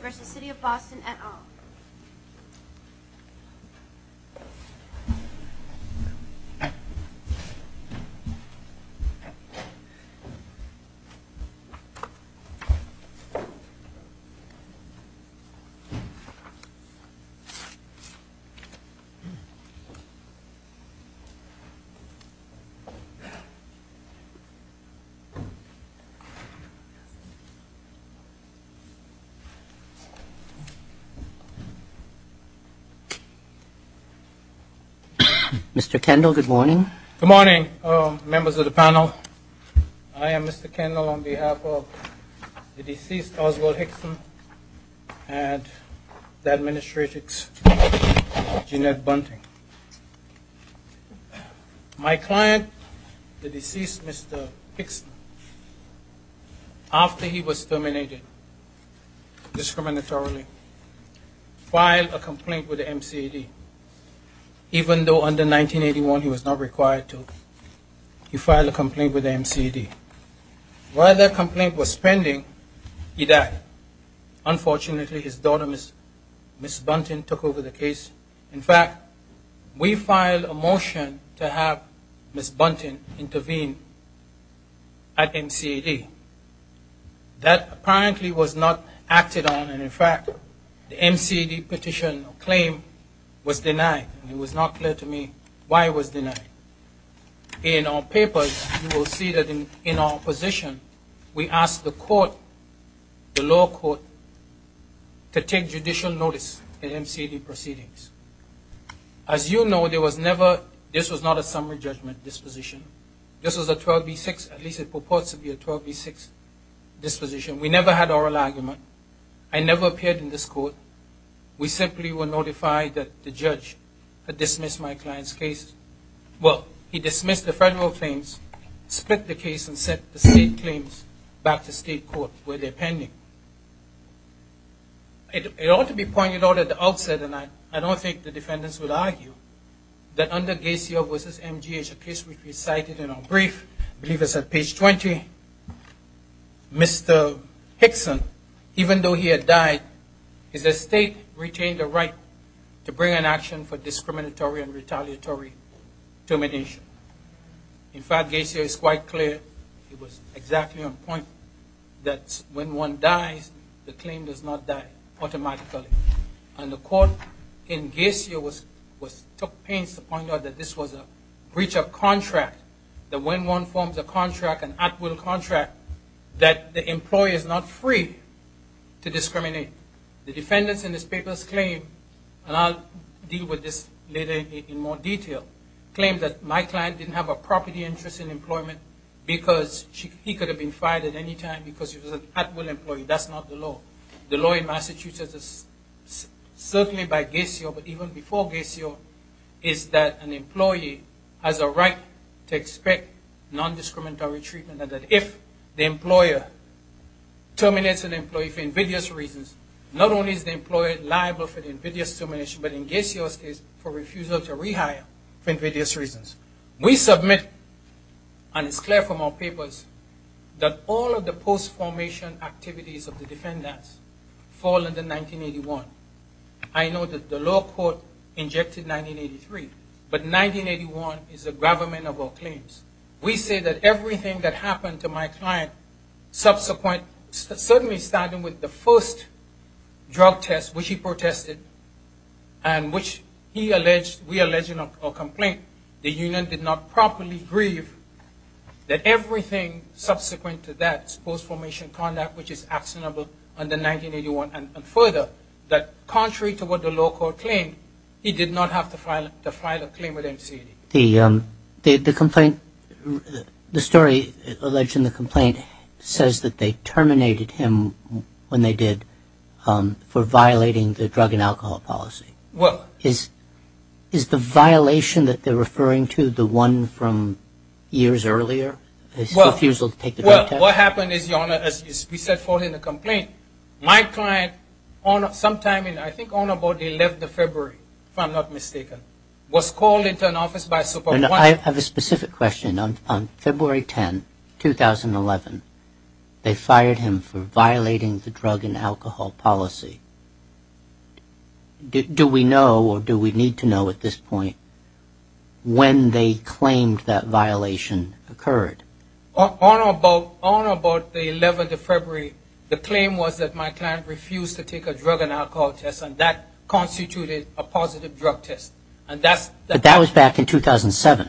v. City of Boston et al. Mr. Kendall, good morning. Good morning, members of the panel. I am Mr. Kendall on behalf of the deceased, Oswald Hickson, and the administrator, Jeanette Bunting. My client, the deceased Mr. Hickson, after he was terminated discriminatorily, filed a complaint with the MCAD. Even though under 1981 he was not required to, he filed a complaint with the MCAD. While that complaint was pending, he died. Unfortunately, his daughter, Ms. Bunting, took over the case. In fact, we filed a motion to have Ms. Bunting intervene at MCAD. That apparently was not acted on, and in fact, the MCAD petition or claim was denied. It was not clear to me why it was denied. In our papers, you will see that in our position, we asked the court, the lower court, to take judicial notice in MCAD proceedings. As you know, there was never, this was not a summary judgment disposition. This was a 12B6, at least it purports to be a 12B6 disposition. We never had oral argument. I never appeared in this court. We simply were notified that the judge had dismissed my client's case. Well, he dismissed the federal claims, split the case, and sent the state claims back to state court where they're pending. It ought to be pointed out at the outset, and I don't think the defendants would argue, that under Gaciev v. MGH, a case which we cited in our brief, I believe it's at page 20, Mr. Hickson, even though he had died, his estate retained the right to bring an action for discriminatory and retaliatory termination. In fact, Gaciev is quite clear. He was exactly on point that when one dies, the claim does not die automatically. And the court in Gaciev took pains to point out that this was a breach of contract, that when one forms a contract, an at-will contract, that the employee is not free to discriminate. The defendants in this paper's claim, and I'll deal with this later in more detail, claimed that my client didn't have a property interest in employment because he could have been fired at any time because he was an at-will employee. That's not the law. The law in Massachusetts, certainly by Gaciev, but even before Gaciev, is that an employee has a right to expect nondiscriminatory treatment, and that if the employer terminates an employee for invidious reasons, not only is the employer liable for the invidious termination, but in Gaciev's case, for refusal to rehire for invidious reasons. We submit, and it's clear from our papers, that all of the post-formation activities of the defendants fall under 1981. I know that the law court injected 1983, but 1981 is the government of our claims. We say that everything that happened to my client subsequently, certainly starting with the first drug test, which he protested, and which we allege in our complaint, the union did not properly grieve, that everything subsequent to that post-formation conduct, which is actionable under 1981, and further, that contrary to what the law court claimed, he did not have to file a claim with MCAD. The complaint, the story alleged in the complaint, says that they terminated him when they did for violating the drug and alcohol policy. Is the violation that they're referring to the one from years earlier, his refusal to take the drug test? Well, what happened is, Your Honor, as we said following the complaint, my client sometime in, I think, on about the 11th of February, if I'm not mistaken, was called into an office by Super 1. I have a specific question. On February 10, 2011, they fired him for violating the drug and alcohol policy. Do we know or do we need to know at this point when they claimed that violation occurred? On about the 11th of February, the claim was that my client refused to take a drug and alcohol test, and that constituted a positive drug test. But that was back in 2007?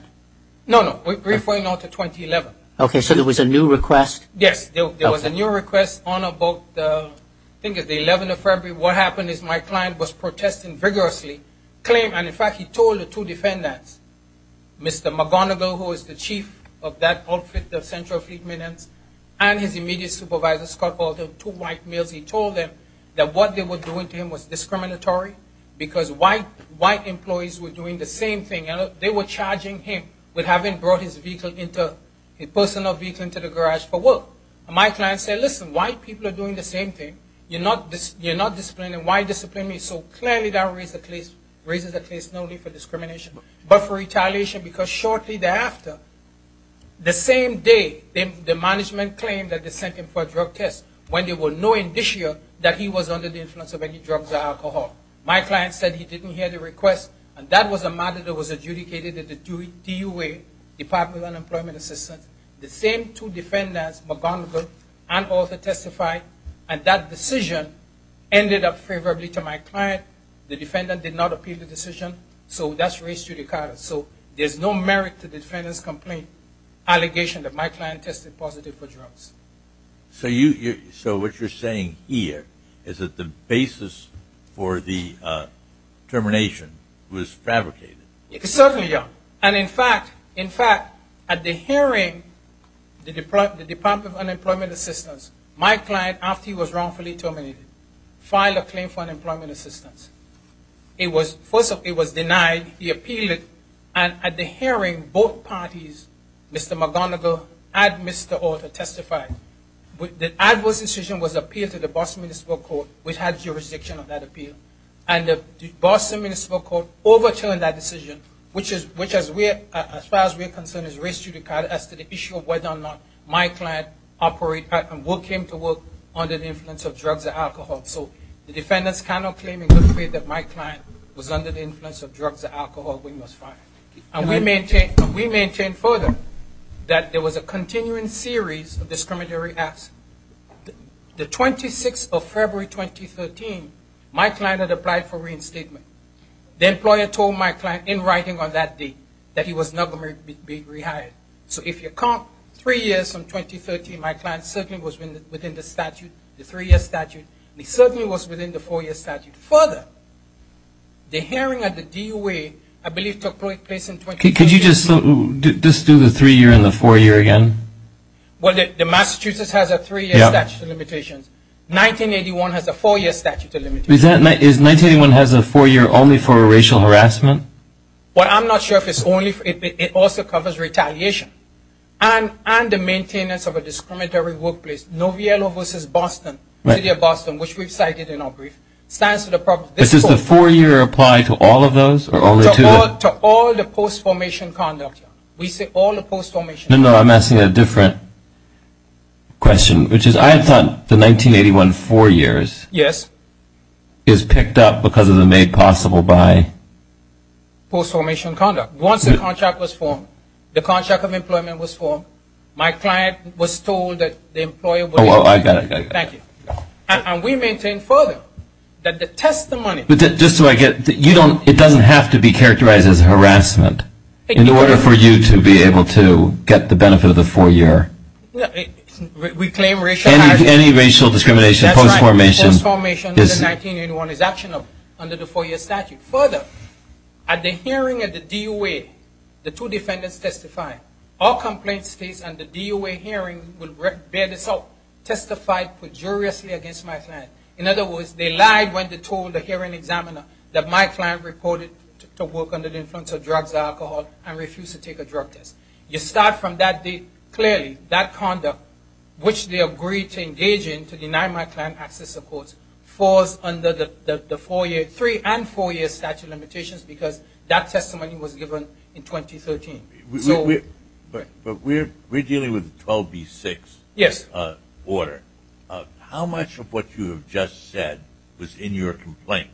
No, no. We're referring now to 2011. Okay, so there was a new request? Yes, there was a new request on about, I think it was the 11th of February. What happened is my client was protesting vigorously, claiming, and in fact he told the two defendants, Mr. McGonigal, who is the chief of that outfit, the Central Fleet Minutes, and his immediate supervisor, Scott Baldwin, two white males, he told them that what they were doing to him was discriminatory because white employees were doing the same thing. They were charging him with having brought his vehicle, his personal vehicle, into the garage for work. And my client said, listen, white people are doing the same thing. You're not disciplining. Why discipline me? So clearly that raises the case not only for discrimination but for retaliation because shortly thereafter, the same day, the management claimed that they sent him for a drug test when they were knowing this year that he was under the influence of any drugs or alcohol. My client said he didn't hear the request, and that was a matter that was adjudicated at the DUA, Department of Unemployment Assistance. The same two defendants, McGonigal and Arthur, testified, and that decision ended up favorably to my client. The defendant did not appeal the decision, so that's raised judicata. So there's no merit to the defendant's complaint, allegation that my client tested positive for drugs. So what you're saying here is that the basis for the termination was fabricated. Certainly, yeah. And in fact, at the hearing, the Department of Unemployment Assistance, my client, after he was wrongfully terminated, filed a claim for unemployment assistance. It was denied, he appealed it, and at the hearing, both parties, Mr. McGonigal and Mr. Arthur testified that the adverse decision was appealed to the Boston Municipal Court, which had jurisdiction of that appeal, and the Boston Municipal Court overturned that decision, which, as far as we're concerned, has raised judicata as to the issue of whether or not my client came to work under the influence of drugs or alcohol. So the defendants cannot claim in good faith that my client was under the influence of drugs or alcohol when he was fired. And we mentioned further that there was a continuing series of discriminatory acts. The 26th of February 2013, my client had applied for reinstatement. The employer told my client in writing on that day that he was not going to be rehired. So if you count three years from 2013, my client certainly was within the statute, the three-year statute, and he certainly was within the four-year statute. Further, the hearing at the DOA, I believe, took place in 2013. Could you just do the three-year and the four-year again? Well, the Massachusetts has a three-year statute of limitations. 1981 has a four-year statute of limitations. Is 1981 has a four-year only for racial harassment? Well, I'm not sure if it's only for – it also covers retaliation and the maintenance of a discriminatory workplace. Noviello v. Boston, the city of Boston, which we've cited in our brief, stands for the – But does the four-year apply to all of those or only to – To all the post-formation conduct. We say all the post-formation conduct. No, no, I'm asking a different question, which is I thought the 1981 four years – Yes. Is picked up because of the made-possible by – Post-formation conduct. Once the contract was formed, the contract of employment was formed, my client was told that the employable – Oh, I got it. Thank you. And we maintain further that the testimony – Just so I get – you don't – it doesn't have to be characterized as harassment in order for you to be able to get the benefit of the four-year. We claim racial – Any racial discrimination, post-formation – That's right. Post-formation under 1981 is actionable under the four-year statute. Further, at the hearing at the DOA, the two defendants testified. All complaints faced at the DOA hearing will bear this out. Testified pejoriously against my client. In other words, they lied when they told the hearing examiner that my client reported to work under the influence of drugs or alcohol and refused to take a drug test. You start from that date, clearly, that conduct, which they agreed to engage in to deny my client access to support, falls under the four-year – three and four-year statute of limitations because that testimony was given in 2013. So – But we're dealing with the 12B6 order. Yes. How much of what you have just said was in your complaint?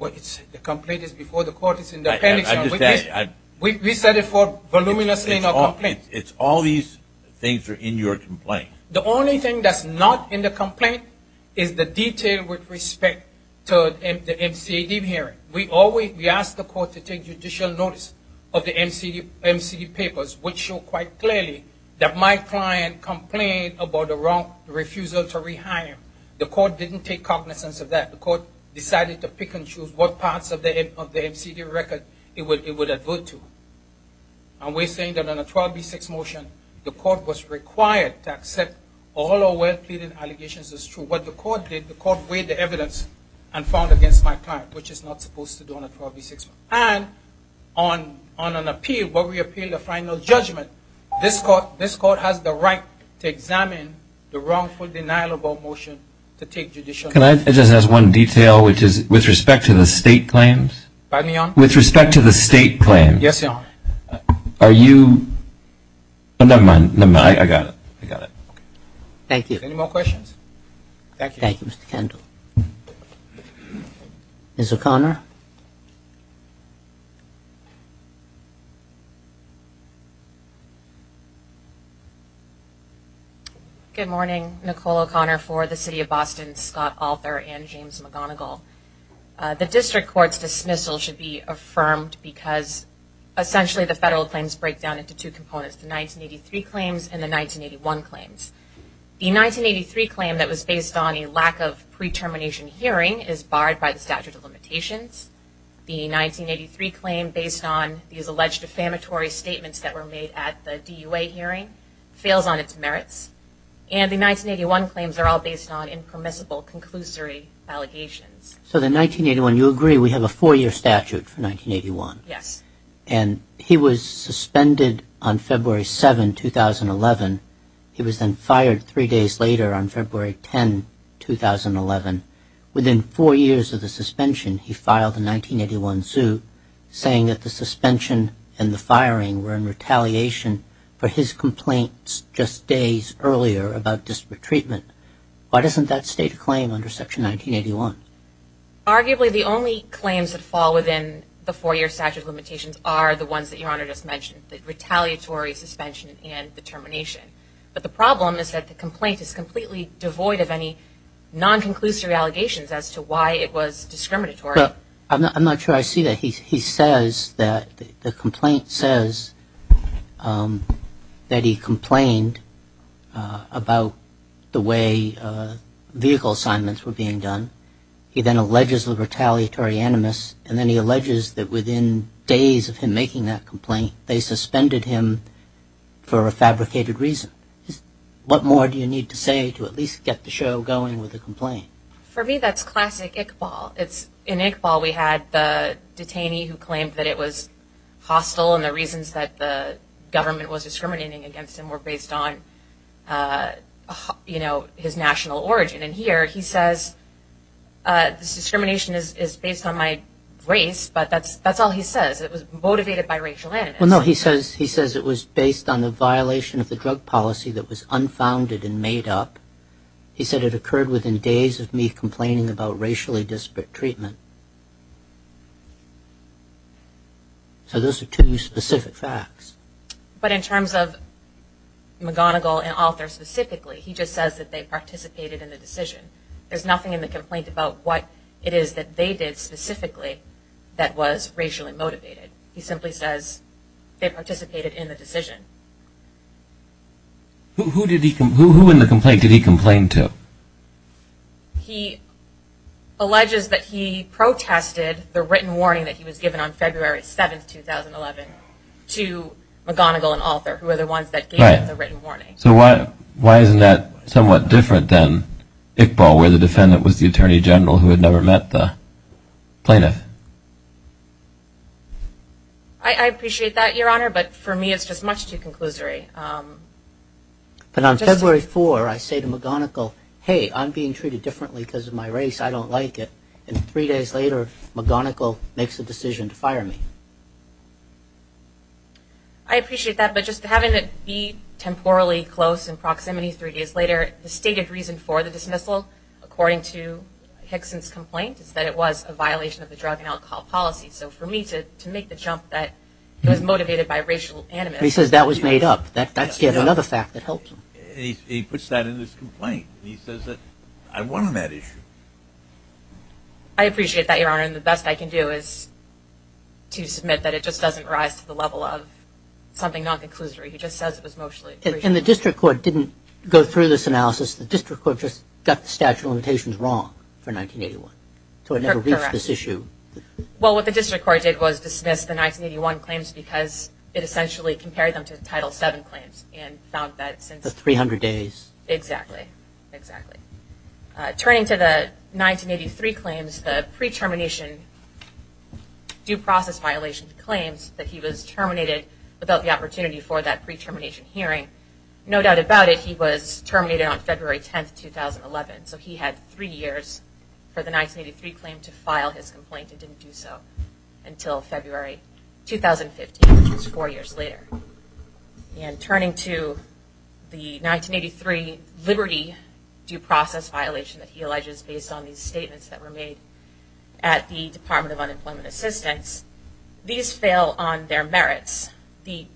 Well, it's – the complaint is before the court. It's in the appendix. I understand. We set it for voluminously in our complaint. It's all these things are in your complaint. The only thing that's not in the complaint is the detail with respect to the MCAD hearing. We always – we ask the court to take judicial notice of the MCAD papers, which show quite clearly that my client complained about the wrong refusal to rehire him. The court didn't take cognizance of that. The court decided to pick and choose what parts of the MCAD record it would avert to. And we're saying that on a 12B6 motion, the court was required to accept all our well-pleaded allegations as true. What the court did, the court weighed the evidence and found against my client, which is not supposed to do on a 12B6. And on an appeal, when we appeal the final judgment, this court has the right to examine the wrongful denial of our motion to take judicial notice. Can I just ask one detail, which is with respect to the state claims? Pardon me, Your Honor? With respect to the state claims. Yes, Your Honor. Are you – never mind. I got it. I got it. Thank you. Any more questions? Thank you. Thank you, Mr. Kendall. Ms. O'Connor. Good morning. Nicole O'Connor for the City of Boston, Scott Alter, and James McGonigal. The district court's dismissal should be affirmed because essentially the federal claims break down into two components, the 1983 claims and the 1981 claims. The 1983 claim that was based on a lack of pre-termination hearing is barred by the statute of limitations. The 1983 claim based on these alleged defamatory statements that were made at the DUA hearing fails on its merits. And the 1981 claims are all based on impermissible conclusory allegations. So the 1981, you agree we have a four-year statute for 1981? Yes. And he was suspended on February 7, 2011. He was then fired three days later on February 10, 2011. Within four years of the suspension, he filed a 1981 suit saying that the suspension and the firing were in retaliation for his complaints just days earlier about disparate treatment. Why doesn't that state a claim under Section 1981? Arguably the only claims that fall within the four-year statute of limitations are the ones that Your Honor just mentioned, the retaliatory suspension and the termination. But the problem is that the complaint is completely devoid of any non-conclusive allegations as to why it was discriminatory. I'm not sure I see that. He says that the complaint says that he complained about the way vehicle assignments were being done. He then alleges the retaliatory animus, and then he alleges that within days of him making that complaint, they suspended him for a fabricated reason. What more do you need to say to at least get the show going with the complaint? For me, that's classic Iqbal. In Iqbal, we had the detainee who claimed that it was hostile, and the reasons that the government was discriminating against him were based on his national origin. And here he says, this discrimination is based on my race, but that's all he says. It was motivated by racial animus. Well, no, he says it was based on the violation of the drug policy that was unfounded and made up. He said it occurred within days of me complaining about racially disparate treatment. So those are two specific facts. But in terms of McGonigal and Alter specifically, he just says that they participated in the decision. There's nothing in the complaint about what it is that they did specifically that was racially motivated. He simply says they participated in the decision. Who in the complaint did he complain to? He alleges that he protested the written warning that he was given on February 7, 2011, to McGonigal and Alter, who were the ones that gave him the written warning. So why isn't that somewhat different than Iqbal, where the defendant was the attorney general who had never met the plaintiff? I appreciate that, Your Honor, but for me it's just much too conclusory. But on February 4, I say to McGonigal, hey, I'm being treated differently because of my race, I don't like it. And three days later, McGonigal makes the decision to fire me. I appreciate that, but just having it be temporally close in proximity three days later, the stated reason for the dismissal, according to Hickson's complaint, is that it was a violation of the drug and alcohol policy. So for me to make the jump that it was motivated by racial animus. He says that was made up. That's yet another fact that helps him. He puts that in his complaint. He says that I won on that issue. I appreciate that, Your Honor. And the best I can do is to submit that it just doesn't rise to the level of something non-conclusory. He just says it was mostly racial. And the district court didn't go through this analysis. The district court just got the statute of limitations wrong for 1981. Correct. So it never reached this issue. Well, what the district court did was dismiss the 1981 claims because it essentially compared them to the Title VII claims and found that since. The 300 days. Exactly. Exactly. Turning to the 1983 claims, the pre-termination due process violation claims that he was terminated without the opportunity for that pre-termination hearing. No doubt about it, he was terminated on February 10, 2011. So he had three years for the 1983 claim to file his complaint and didn't do so until February 2015, which is four years later. And turning to the 1983 liberty due process violation that he alleges based on these statements that were made at the Department of Unemployment Assistance, these fail on their merits. The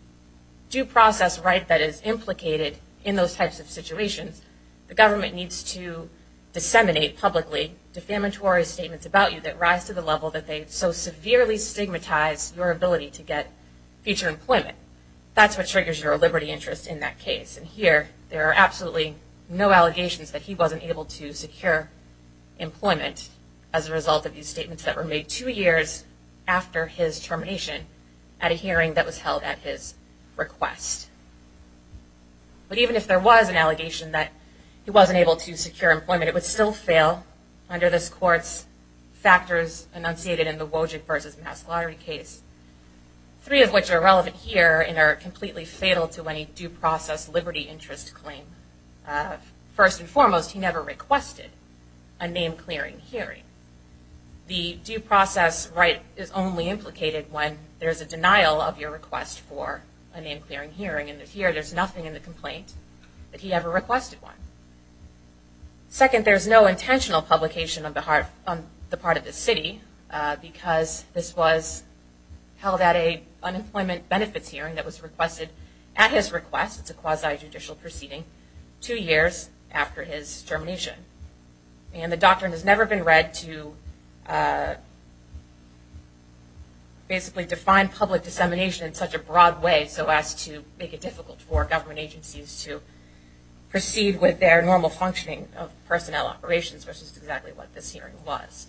due process right that is implicated in those types of situations, the government needs to disseminate publicly defamatory statements about you that rise to the level that they so severely stigmatize your ability to get future employment. That's what triggers your liberty interest in that case. And here there are absolutely no allegations that he wasn't able to secure employment as a result of these statements that were made two years after his termination at a hearing that was held at his request. But even if there was an allegation that he wasn't able to secure employment, it would still fail under this court's factors enunciated in the Wojcik v. Mass Lottery case, three of which are relevant here and are completely fatal to any due process liberty interest claim. First and foremost, he never requested a name-clearing hearing. The due process right is only implicated when there's a denial of your request for a name-clearing hearing. And here there's nothing in the complaint that he ever requested one. Second, there's no intentional publication on the part of the city because this was held at an unemployment benefits hearing that was requested at his request. It's a quasi-judicial proceeding two years after his termination. And the doctrine has never been read to basically define public dissemination in such a broad way so as to make it difficult for government agencies to proceed with their normal functioning of personnel operations, which is exactly what this hearing was.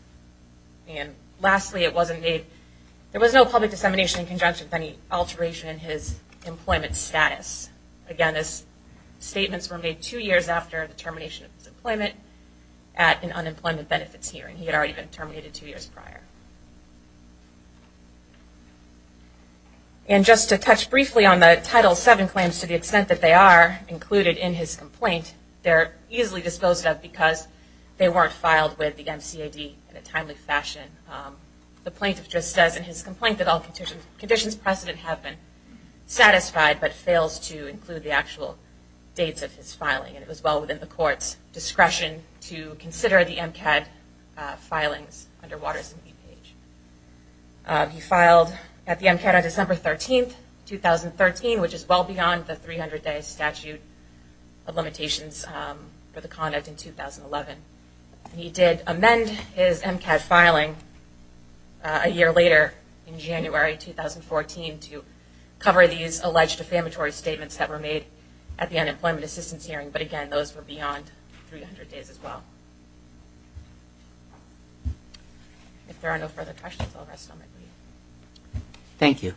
And lastly, there was no public dissemination in conjunction with any alteration in his employment status. Again, these statements were made two years after the termination of his employment at an unemployment benefits hearing. He had already been terminated two years prior. And just to touch briefly on the Title VII claims to the extent that they are included in his complaint, they're easily disposed of because they weren't filed with the MCAD in a timely fashion. The plaintiff just says in his complaint that all conditions precedent have been satisfied but fails to include the actual dates of his filing. And it was well within the court's discretion to consider the MCAD filings under Waters and Beepage. He filed at the MCAD on December 13, 2013, which is well beyond the 300-day statute of limitations for the conduct in 2011. He did amend his MCAD filing a year later in January 2014 to cover these alleged defamatory statements that were made at the unemployment assistance hearing. But again, those were beyond 300 days as well. If there are no further questions, I'll rest on my leave. Thank you.